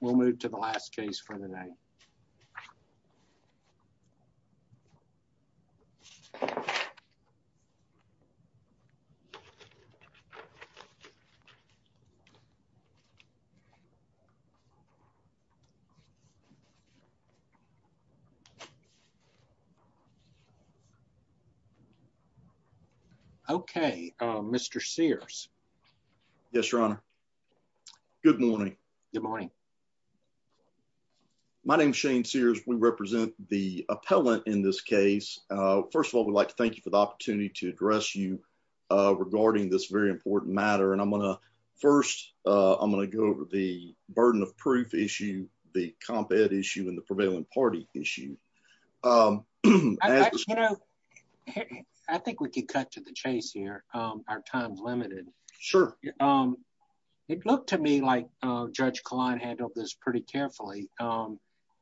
We'll move to the last case for the day. Okay, Mr. Sears. Yes, your honor. Good morning. Good morning. My name is Shane Sears. We represent the appellant in this case. First of all, we'd like to thank you for the opportunity to address you regarding this very important matter. And I'm going to first, I'm going to go over the burden of proof issue, the comp ed issue and the prevailing party issue. I think we could cut to the chase here. Our client handled this pretty carefully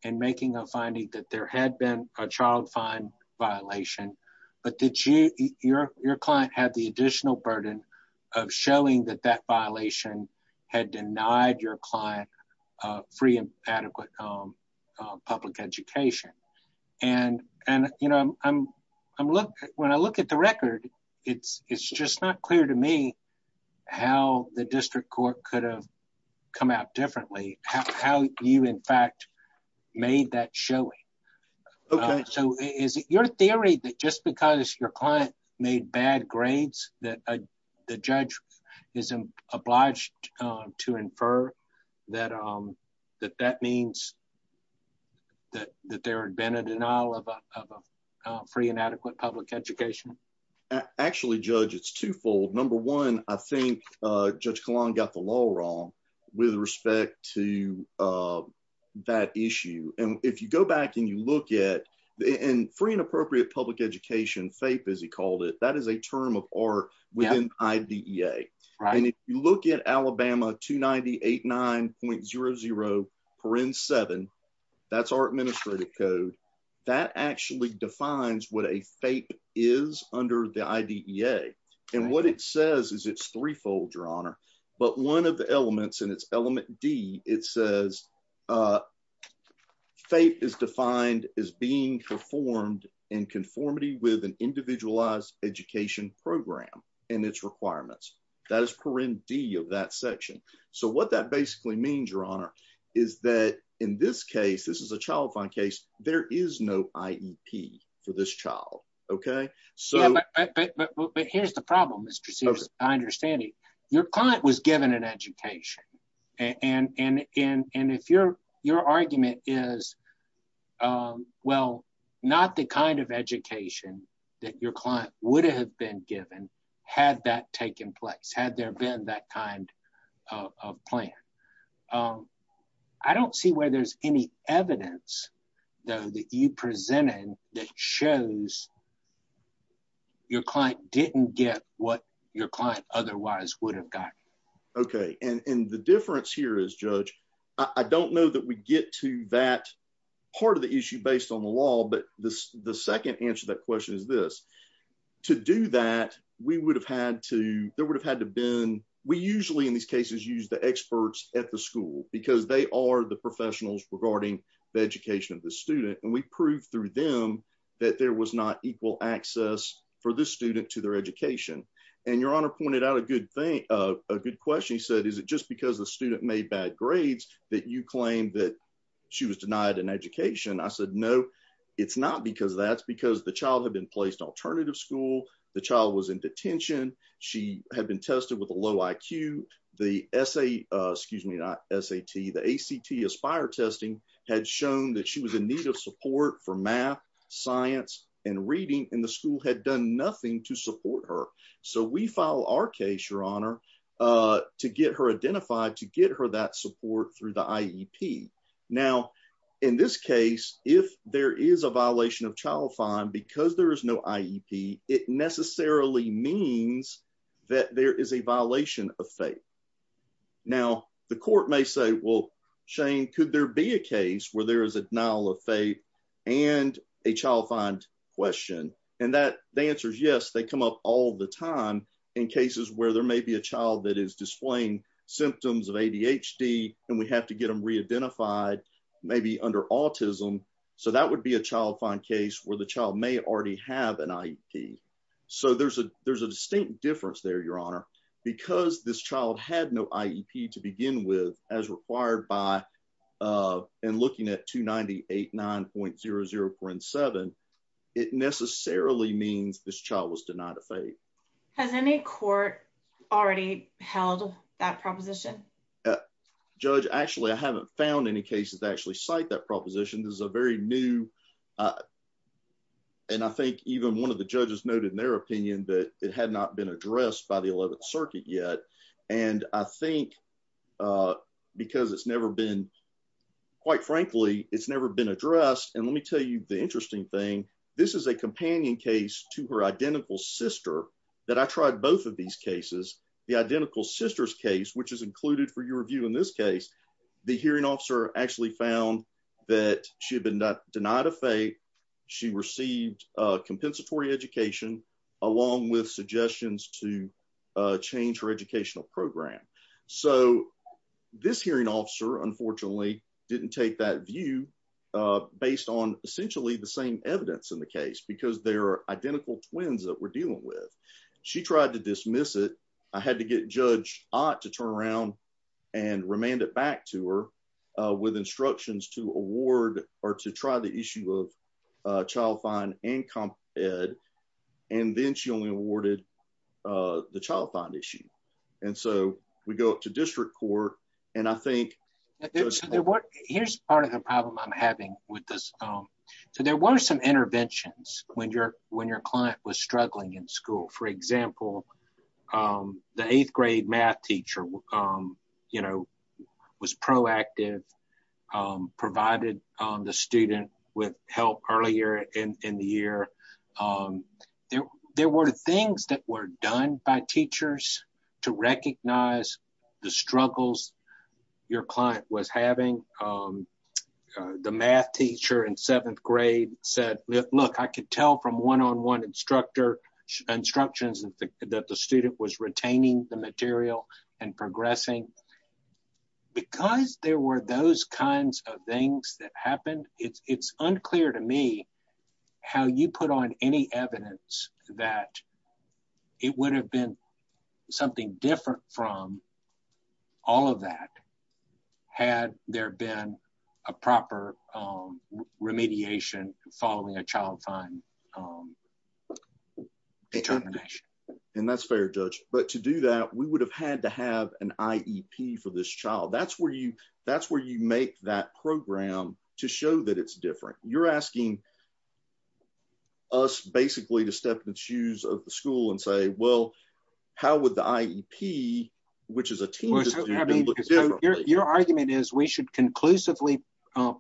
in making a finding that there had been a child fine violation, but your client had the additional burden of showing that that violation had denied your client free and adequate public education. When I look at the record, it's how you in fact made that showing. So is it your theory that just because your client made bad grades that the judge is obliged to infer that that means that there had been a denial of free and adequate public education? Actually, Judge, it's twofold. Number one, I think Judge Kalan got the law wrong with respect to that issue. And if you go back and you look at the free and appropriate public education, FAPE as he called it, that is a term of art within IDEA. And if you look at Alabama 290.89.00.7, that's our administrative code. That actually defines what a FAPE is under the IDEA. And what it says is it's threefold, your honor. But one of the elements in its element D, it says FAPE is defined as being performed in conformity with an individualized education program and its requirements. That is per in D of that section. So what that basically means, your honor, is that in this case, this is a child fund case, there is no IEP for this child. Okay. But here's the problem, Mr. Sears. I understand your client was given an education. And if your argument is, well, not the kind of education that your client would have been given, had that taken evidence, though, that you presented that shows your client didn't get what your client otherwise would have gotten. Okay. And the difference here is, Judge, I don't know that we get to that part of the issue based on the law. But the second answer to that question is this. To do that, we would have had to, there would have had to been, we usually in experts at the school, because they are the professionals regarding the education of the student. And we proved through them that there was not equal access for this student to their education. And your honor pointed out a good thing, a good question. He said, is it just because the student made bad grades that you claim that she was denied an education? I said, no, it's not because that's because the child had been placed alternative school, the child was in detention, she had been tested with a low IQ, the essay, excuse me, not SAT, the ACT Aspire testing had shown that she was in need of support for math, science, and reading, and the school had done nothing to support her. So we file our case, your honor, to get her identified to get her that support through the IEP. Now, in this case, if there is a violation of child fine, because there is no IEP, it necessarily means that there is a violation of faith. Now, the court may say, well, Shane, could there be a case where there is a denial of faith and a child find question? And that the answer is yes, they come up all the time in cases where there may be a child that is displaying symptoms of ADHD, and we have to get them re identified, maybe under autism. So that would be a child find case where the child may already have an IEP. So there's a there's a distinct difference there, your honor, because this child had no IEP to begin with, as required by and looking at 298 9.00. And seven, it necessarily means this child was denied a faith. Has any court already held that proposition? Yeah, Judge, actually, I haven't found any cases actually cite that proposition is a very new. And I think even one of the judges noted in their opinion that it had not been addressed by the 11th circuit yet. And I think because it's never been, quite frankly, it's never been addressed. And let me tell you the interesting thing. This is a companion case to her identical sister, that I tried both of these cases, the identical sisters case, which is included for your review, in this case, the hearing officer actually found that she had been denied a faith, she received a compensatory education, along with suggestions to change her educational program. So this hearing officer, unfortunately, didn't take that view, based on essentially the same evidence in the she tried to dismiss it, I had to get Judge Ott to turn around and remand it back to her with instructions to award or to try the issue of child fine and comp ed. And then she only awarded the child bond issue. And so we go to district court. And I think here's part of the problem I'm having with this. So there were some interventions when your when was struggling in school, for example, the eighth grade math teacher, you know, was proactive, provided the student with help earlier in the year. There were things that were done by teachers to recognize the struggles your client was having. The math teacher in seventh one instructor instructions that the student was retaining the material and progressing. Because there were those kinds of things that happened, it's unclear to me how you put on any evidence that it would have been something different from all of that. Had there been a proper remediation following a child fine. And that's fair, judge. But to do that, we would have had to have an IEP for this child. That's where you that's where you make that program to show that it's different. You're asking us basically to step in the shoes of the school and say, well, how would the IEP, which is a team? Your argument is we should conclusively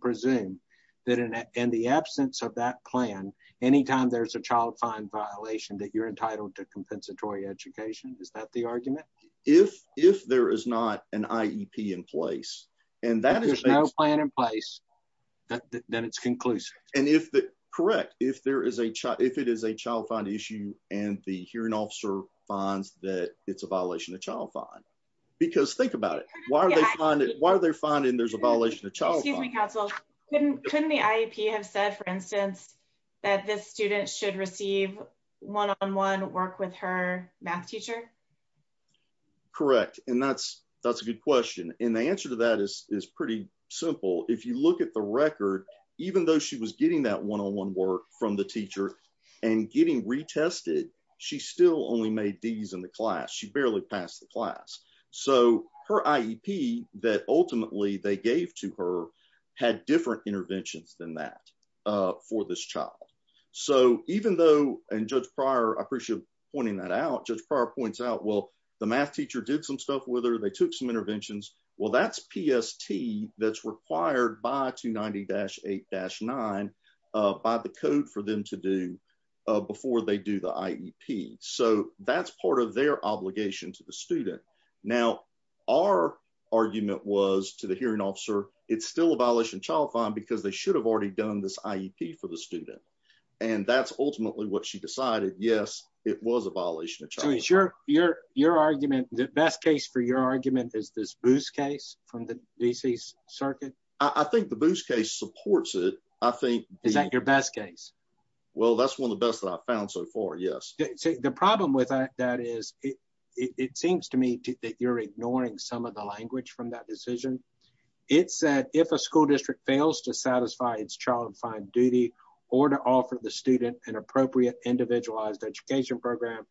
presume that in the absence of that plan, anytime there's a child fine violation that you're entitled to compensatory education. Is that the argument? If if there is not an IEP in place, and that is no plan in place, that then it's conclusive. And if the correct if there is a child fine issue and the hearing officer finds that it's a violation of child fine, because think about it. Why are they finding there's a violation of child? Couldn't the IEP have said, for instance, that this student should receive one on one work with her math teacher? Correct. And that's that's a good question. And the answer to that is pretty simple. If you look at the record, even though she was getting that one work from the teacher and getting retested, she still only made these in the class. She barely passed the class. So her IEP that ultimately they gave to her had different interventions than that for this child. So even though and Judge Pryor appreciate pointing that out, Judge Pryor points out, well, the math teacher did some stuff with her. They took some interventions. Well, that's PST that's required by 290-8-9 by the code for them to do before they do the IEP. So that's part of their obligation to the student. Now, our argument was to the hearing officer, it's still a violation of child fine because they should have already done this IEP for the student. And that's ultimately what she decided. Yes, it was a violation. Your argument, the best case for your argument is this Boos case from the D.C. Circuit? I think the Boos case supports it. I think. Is that your best case? Well, that's one of the best that I've found so far. Yes. The problem with that is it seems to me that you're ignoring some of the language from that decision. It said if a school district fails to satisfy its child fine duty or to offer the student an appropriate individualized education program,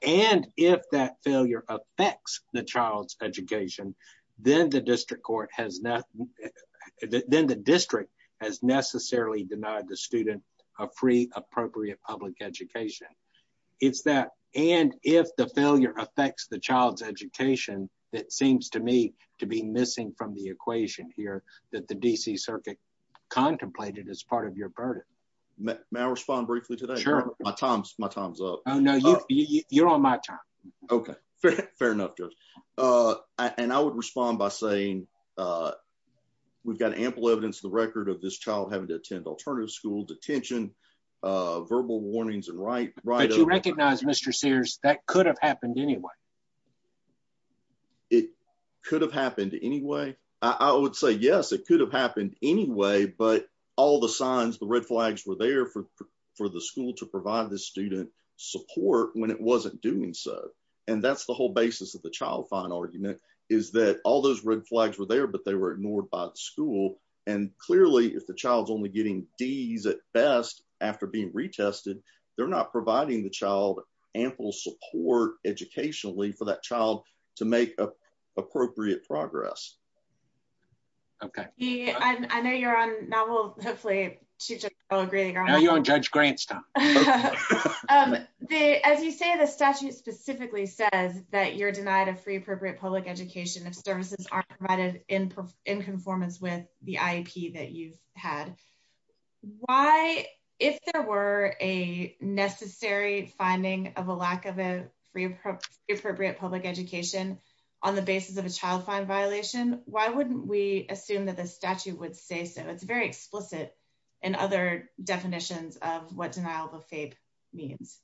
and if that failure affects the child's education, then the district has necessarily denied the student a free, appropriate public education. It's that and if the failure affects the child's education that seems to me to be missing from the equation here that the D.C. Circuit contemplated as part of your burden. May I respond briefly today? Sure. My time's up. Oh, no, you're on my time. Okay. Fair enough, Judge. And I would respond by saying we've got ample evidence, the record of this child having to attend alternative school detention, verbal warnings, and right. But you recognize, Mr. Sears, that could have happened anyway. It could have happened anyway. I would say, yes, it could have happened anyway, but all the signs, the red flags were there for the school to provide the student support when it wasn't doing so. And that's the whole basis of the child fine argument is that all those red flags were there, but they were ignored by the school. And clearly, if the child's only getting Ds at best after being retested, they're not providing the child ample support educationally for that child. Now you're on Judge Grant's time. As you say, the statute specifically says that you're denied a free appropriate public education if services aren't provided in conformance with the IEP that you've had. If there were a necessary finding of a lack of a free appropriate public education on the basis of a child fine violation, why wouldn't we assume that the statute would say so? It's very explicit in other definitions of what denial of a FAPE means.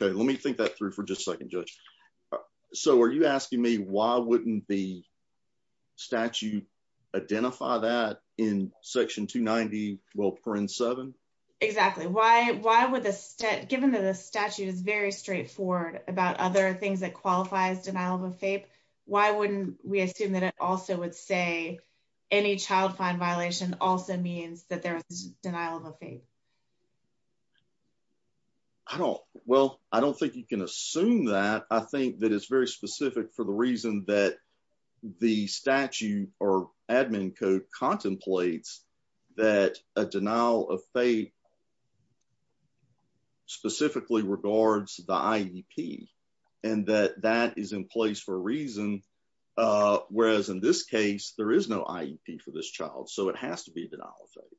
Okay, let me think that through for just a second, Judge. So are you asking me why wouldn't the statute identify that in section 290, well, print seven? Exactly. Why would the stat, given that the statute is very straightforward about other that qualifies denial of a FAPE, why wouldn't we assume that it also would say any child fine violation also means that there's denial of a FAPE? Well, I don't think you can assume that. I think that it's very specific for the reason that the statute or admin code contemplates that a denial of FAPE specifically regards the IEP and that that is in place for a reason. Whereas in this case, there is no IEP for this child. So it has to be a denial of FAPE.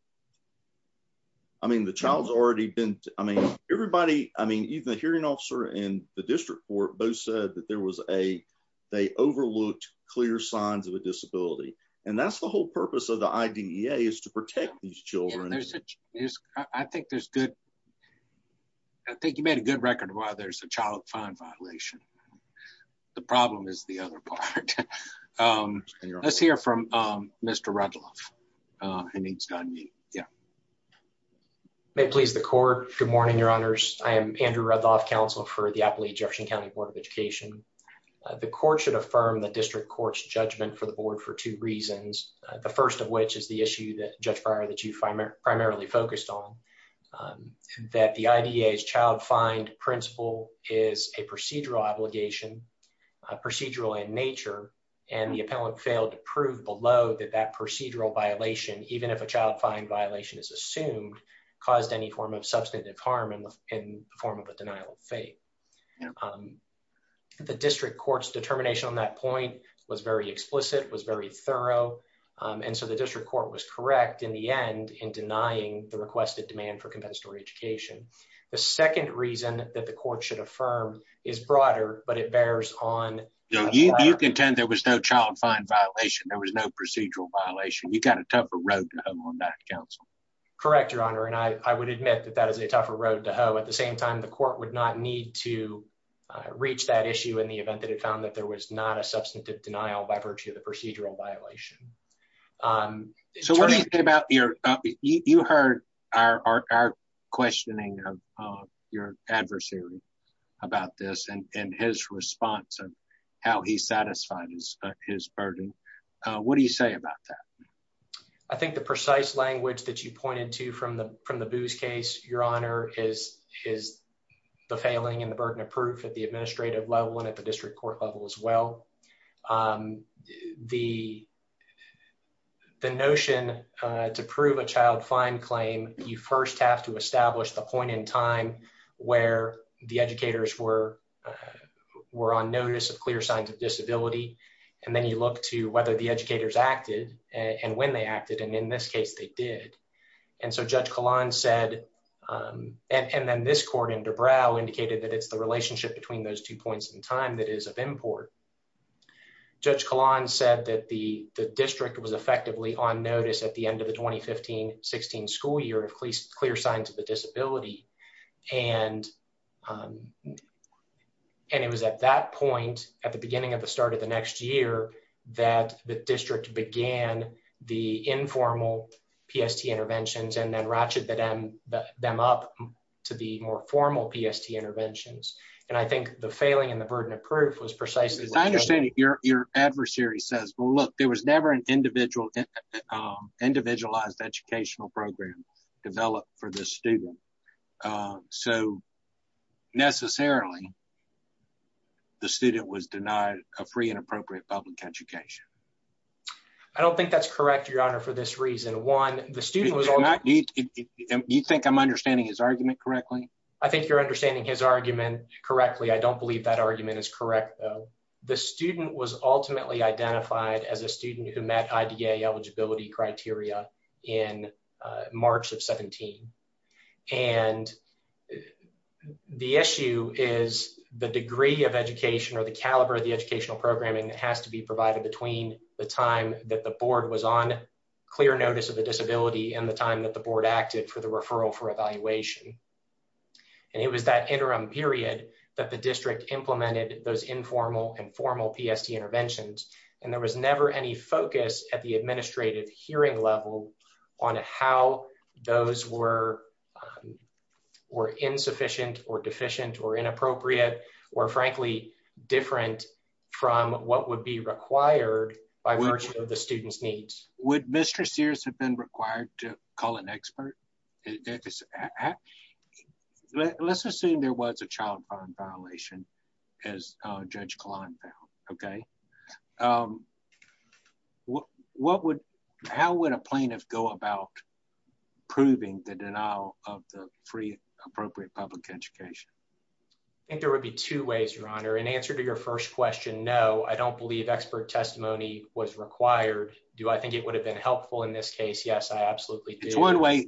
I mean, the child's already been, I mean, everybody, I mean, even the hearing officer and the district court both said that there was a, they overlooked clear signs of a disability. And that's the whole purpose of the IDEA is to protect these children. There's, I think there's good, I think you made a good record of why there's a child fine violation. The problem is the other part. Let's hear from Mr. Rudloff. May it please the court. Good morning, your honors. I am Andrew Rudloff, counsel for the Appalachian Jefferson County Board of Education. The court should affirm the district court's judgment for the board for two reasons. The first of which is the issue that judge Breyer that you find primarily focused on that the IDEA's child find principle is a procedural obligation, procedural in nature, and the appellant failed to prove below that that procedural violation, even if a child fine violation is assumed, caused any form of substantive harm in the form of a denial of FAPE. The district court's determination on that point was very explicit, was very thorough. And so the district court was correct in the end in denying the requested demand for compensatory education. The second reason that the court should affirm is broader, but it bears on. You contend there was no child fine violation. There was no procedural violation. You got a tougher road on that counsel. Correct, your honor. And I would admit that that is a tougher road to hoe. At the same time, the court would not need to reach that issue in the event that it found that there was not a substantive denial by virtue of the procedural violation. So what do you think about your, you heard our questioning of your adversary about this and his response and how he satisfied his burden. What do you say about that? I think the precise language that you pointed to from the Booz case, your honor, is the failing and the burden of proof at the administrative level and at the district court level as well. The notion to prove a child fine claim, you first have to establish the point in time where the educators were on notice of clear signs of disability. And then you look to whether the educators acted and when they acted. And in this case they did. And so Judge Kalan said, and then this court in Dubrow indicated that it's the time that is of import. Judge Kalan said that the district was effectively on notice at the end of the 2015-16 school year of clear signs of a disability. And it was at that point, at the beginning of the start of the next year, that the district began the informal PST interventions and ratcheted them up to the more formal PST interventions. And I think the failing and the burden of proof was precisely- I understand that your adversary says, well, look, there was never an individualized educational program developed for this student. So necessarily the student was denied a free and appropriate public education. I don't think that's correct, your honor, for this reason. One, the student was- you think I'm understanding his argument correctly? I think you're understanding his argument correctly. I don't believe that argument is correct, though. The student was ultimately identified as a student who met IDA eligibility criteria in March of 17. And the issue is the degree of education or the caliber of the educational programming that has to be provided between the time that the board was on clear notice of a disability and the time that the board acted for the referral for evaluation. And it was that interim period that the district implemented those informal and formal PST interventions. And there was never any focus at the administrative hearing level on how those were insufficient or deficient or inappropriate or, frankly, different from what would be required by virtue of the student's needs. Would Mr. Sears have been required to call an expert? Let's assume there was a child bond violation, as Judge Kline found, okay? How would a plaintiff go about proving the denial of the free, appropriate public education? I think there would be two ways, Your Honor. In answer to your first question, no, I don't believe expert testimony was required. Do I think it would have been helpful in this case? Yes, I absolutely do. It's one way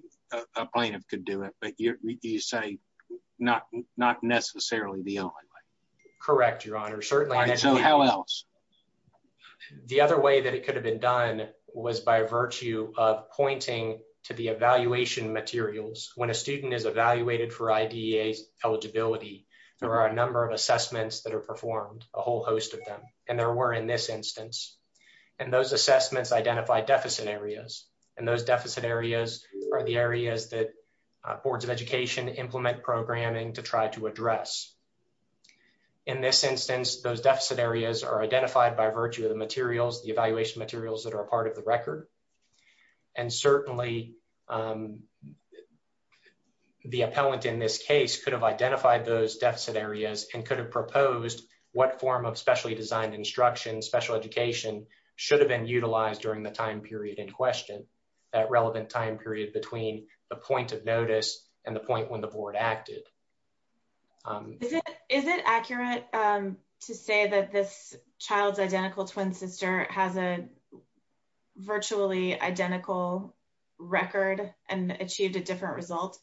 a plaintiff could do it, but you say not necessarily the only way. Correct, Your Honor. Certainly. All right, so how else? The other way that it could have been done was by virtue of pointing to the evaluation materials. When a student is evaluated for IDEA eligibility, there are a number of assessments that are performed, a whole host of them, and there were in this instance. And those assessments identify deficit areas, and those deficit areas are the areas that boards of education implement programming to try to address. In this instance, those deficit areas are identified by virtue of the materials, the evaluation materials that are a part of the record. And certainly, the appellant in this case could have identified those deficit areas and could have proposed what form of specially designed instruction, special education should have been utilized during the time period in question, that relevant time period between the point of notice and the point when the board acted. Is it accurate to say that this child's identical twin sister has a virtually identical record and achieved a different result?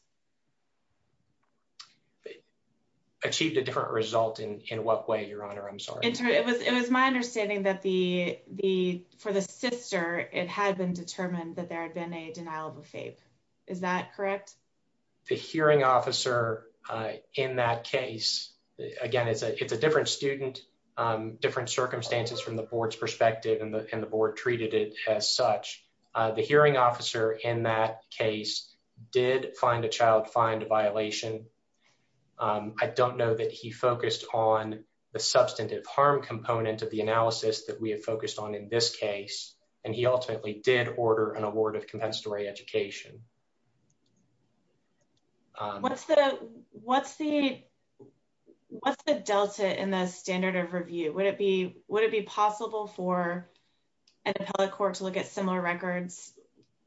Achieved a different result in what way, Your Honor? I'm sorry. It was my understanding that for the sister, it had been determined that there had been a denial of a FAPE. Is that correct? The hearing officer in that case, again, it's a different student, different circumstances from the board's perspective, and the board treated it as such. The hearing officer in that case did find a child find a violation. I don't know that he focused on the substantive harm component of the analysis that we have focused on in this case, and he ultimately did order an award of compensatory education. What's the delta in the standard of review? Would it be possible for an appellate court to look at similar records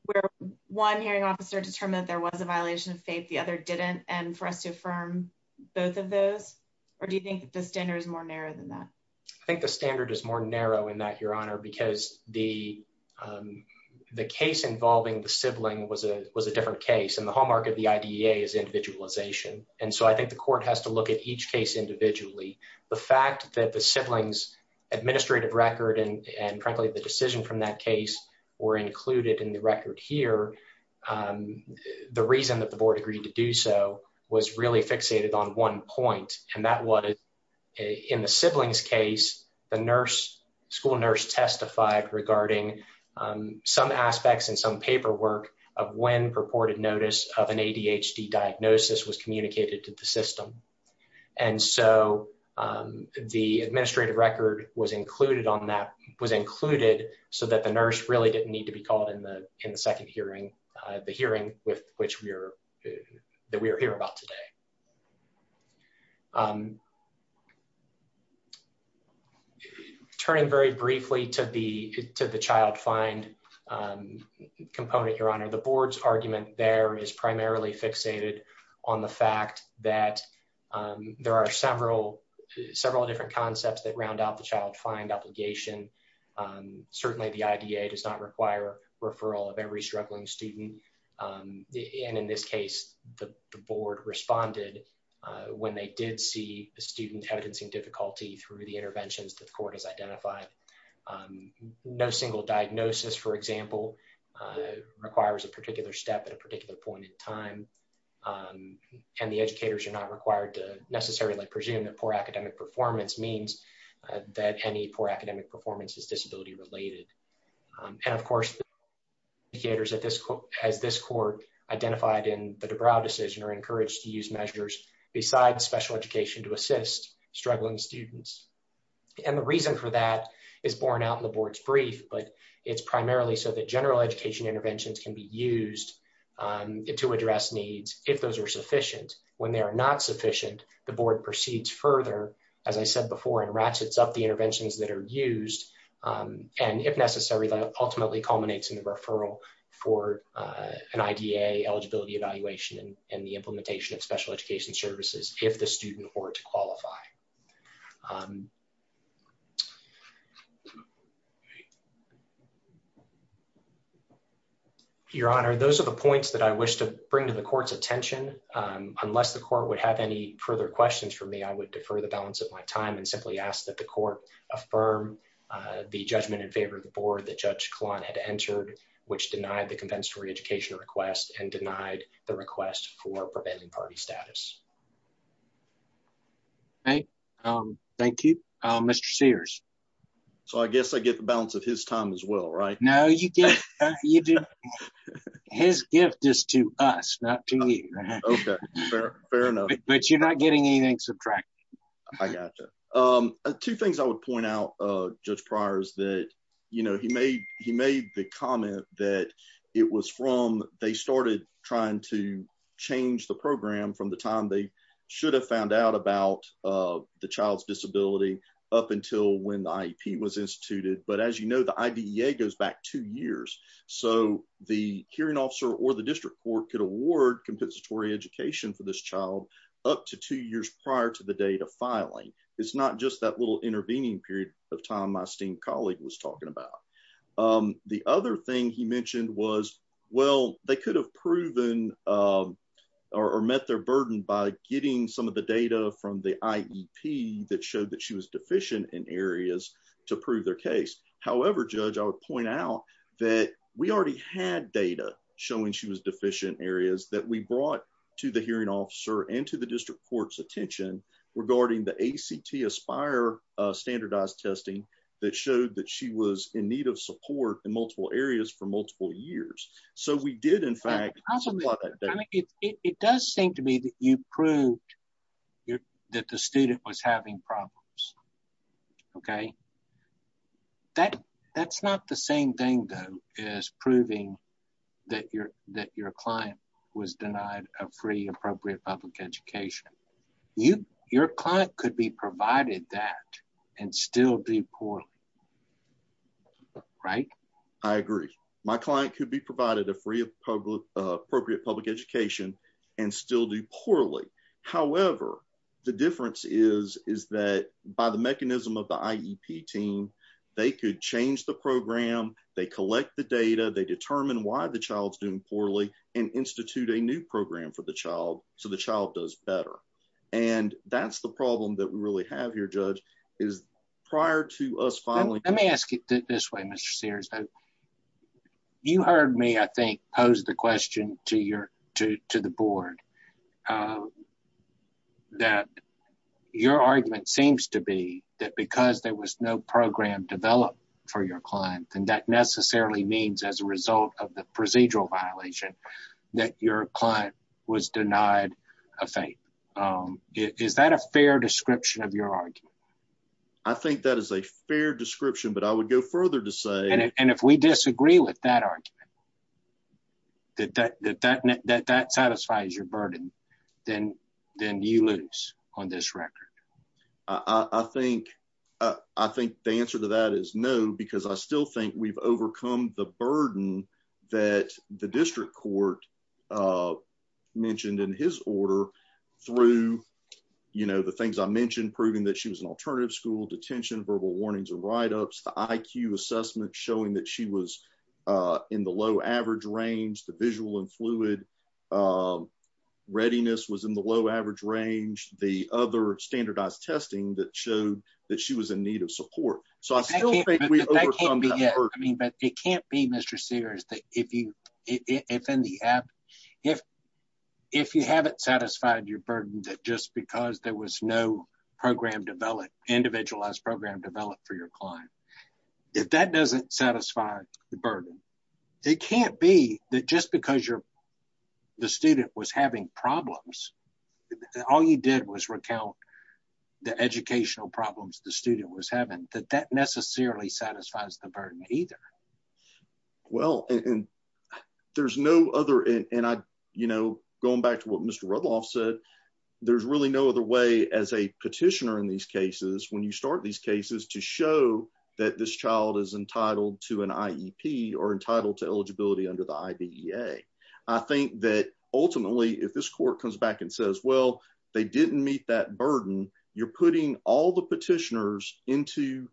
where one hearing officer determined that there was a violation of FAPE, the other didn't, and for us to affirm both of those? Or do you think the standard is more narrow than that? I think the standard is more narrow in that, Your Honor, because the case involving the sibling was a different case, and the hallmark of the IDEA is individualization, and so I think the court has to look at each case individually. The fact that the sibling's administrative record and, frankly, the decision from that case were included in the record here, the reason that the board agreed to do so was really fixated on one point, and that was in the sibling's case, the school nurse testified regarding some aspects and some paperwork of when purported notice of an ADHD diagnosis was communicated to the system, and so the administrative record was included on that, was included so that the nurse really didn't need to be called in the second hearing, the hearing that we are here about today. Turning very briefly to the child find component, Your Honor, the board's argument there is primarily fixated on the fact that there are several different concepts that round out the child find obligation. Certainly, the IDEA does not require referral of every struggling student, and in this case, the board responded when they did see a student evidencing difficulty through the interventions that the court has identified. No single diagnosis, for example, requires a particular step at a particular point in time, and the educators are not required to necessarily presume that poor academic performance means that any poor academic performance is related. And of course, the educators as this court identified in the Dubrow decision are encouraged to use measures besides special education to assist struggling students, and the reason for that is borne out in the board's brief, but it's primarily so that general education interventions can be used to address needs if those are sufficient. When they are not sufficient, the board proceeds further, as I said before, and ratchets up the interventions that are used, and if necessary, that ultimately culminates in the referral for an IDEA eligibility evaluation and the implementation of special education services if the student were to qualify. Your Honor, those are the points that I wish to bring to the court's attention. Unless the court would have any further questions for me, I would defer the balance of my time and simply ask that court affirm the judgment in favor of the board that Judge Klon had entered, which denied the compensatory education request and denied the request for prevailing party status. Okay, thank you. Mr. Sears. So I guess I get the balance of his time as well, right? No, you do. His gift is to us, not to you. Okay, fair enough. But you're not getting anything subtracted. I gotcha. Two things I would point out, Judge Pryor, is that, you know, he made the comment that it was from they started trying to change the program from the time they should have found out about the child's disability up until when the IEP was instituted. But as you know, the IDEA goes back two years. So the hearing officer or the district court could award compensatory education for this filing. It's not just that little intervening period of time my esteemed colleague was talking about. The other thing he mentioned was, well, they could have proven or met their burden by getting some of the data from the IEP that showed that she was deficient in areas to prove their case. However, Judge, I would point out that we already had data showing she was deficient areas that we brought to the hearing officer and to the district court's attention regarding the ACT Aspire standardized testing that showed that she was in need of support in multiple areas for multiple years. So we did in fact... It does seem to me that you proved that the student was having problems. Okay. That's not the same thing though as proving that your client was denied a free appropriate public education. Your client could be provided that and still do poorly. Right? I agree. My client could be provided a free appropriate public education and still do poorly. However, the difference is that by the mechanism of the IEP team, they could change the program, they collect the data, they determine why the child's doing poorly and institute a new program for the child so the child does better. And that's the problem that we really have here, Judge, is prior to us finally... Let me ask you this way, Mr. Sears. You heard me, I think, pose the board that your argument seems to be that because there was no program developed for your client, then that necessarily means as a result of the procedural violation that your client was denied a fate. Is that a fair description of your argument? I think that is a fair description, but I would go further to say... If we disagree with that argument, that satisfies your burden, then you lose on this record. I think the answer to that is no, because I still think we've overcome the burden that the district court mentioned in his order through the things I mentioned, proving that she was in alternative school, detention, verbal warnings or write-ups, the IQ assessment showing that she was in the low average range, the visual and fluid readiness was in the low average range, the other standardized testing that showed that she was in need of support. So I still think we've overcome that burden. But it can't be, Mr. Sears, that if you haven't satisfied your burden that just because there was program developed, individualized program developed for your client, if that doesn't satisfy the burden, it can't be that just because the student was having problems, all you did was recount the educational problems the student was having, that that necessarily satisfies the burden either. Well, and there's no other... And going back to what Mr. Rudloff said, there's really no other way as a petitioner in these cases, when you start these cases to show that this child is entitled to an IEP or entitled to eligibility under the IBEA. I think that ultimately, if this court comes back and says, well, they didn't meet that burden, you're putting all the petitioners into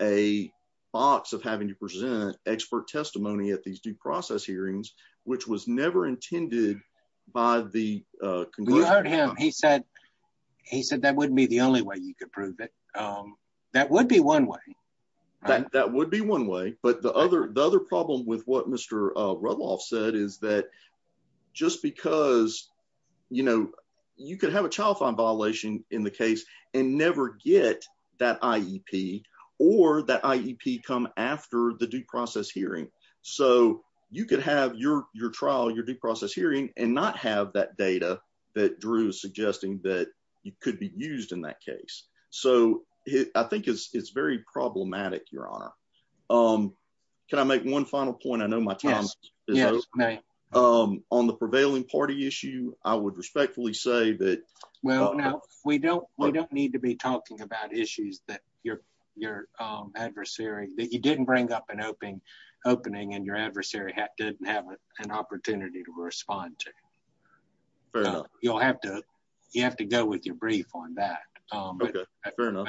a box of having to present expert testimony at these due process hearings, which was never intended by the... You heard him. He said that wouldn't be the only way you could prove it. That would be one way. That would be one way. But the other problem with what Mr. Rudloff said is that just because you could have a child fine violation in the case and never get that IEP or that IEP come after the due process hearing. So you could have your trial, your due process hearing and not have that data that Drew is suggesting that could be used in that case. So I think it's very problematic, Your Honor. Can I make one final point? I know my time is up. On the prevailing party issue, I would respectfully say that... Well, no. We don't need to be talking about issues that you didn't bring up an opening and your adversary didn't have an opportunity to respond to. You'll have to... You have to go with your brief on that. Okay, fair enough.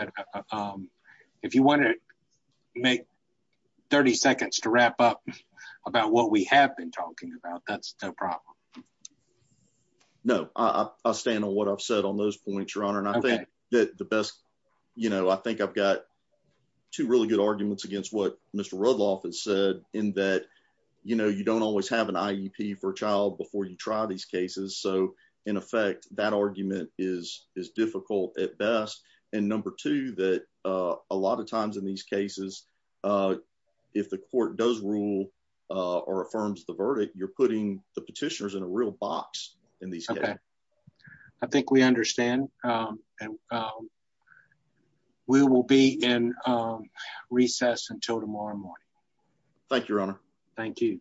If you want to make 30 seconds to wrap up about what we have been talking about, that's no problem. No, I stand on what I've said on those points, Your Honor. And I think that the best... I think I've got two really good arguments against what Mr. Rudloff has said in that you don't always have an IEP for a child before you try these cases. So in effect, that argument is difficult at best. And number two, that a lot of times in these cases, if the court does rule or affirms the verdict, you're putting the petitioners in a real box in these cases. I think we understand. And we will be in recess until tomorrow morning. Thank you, Your Honor. Thank you.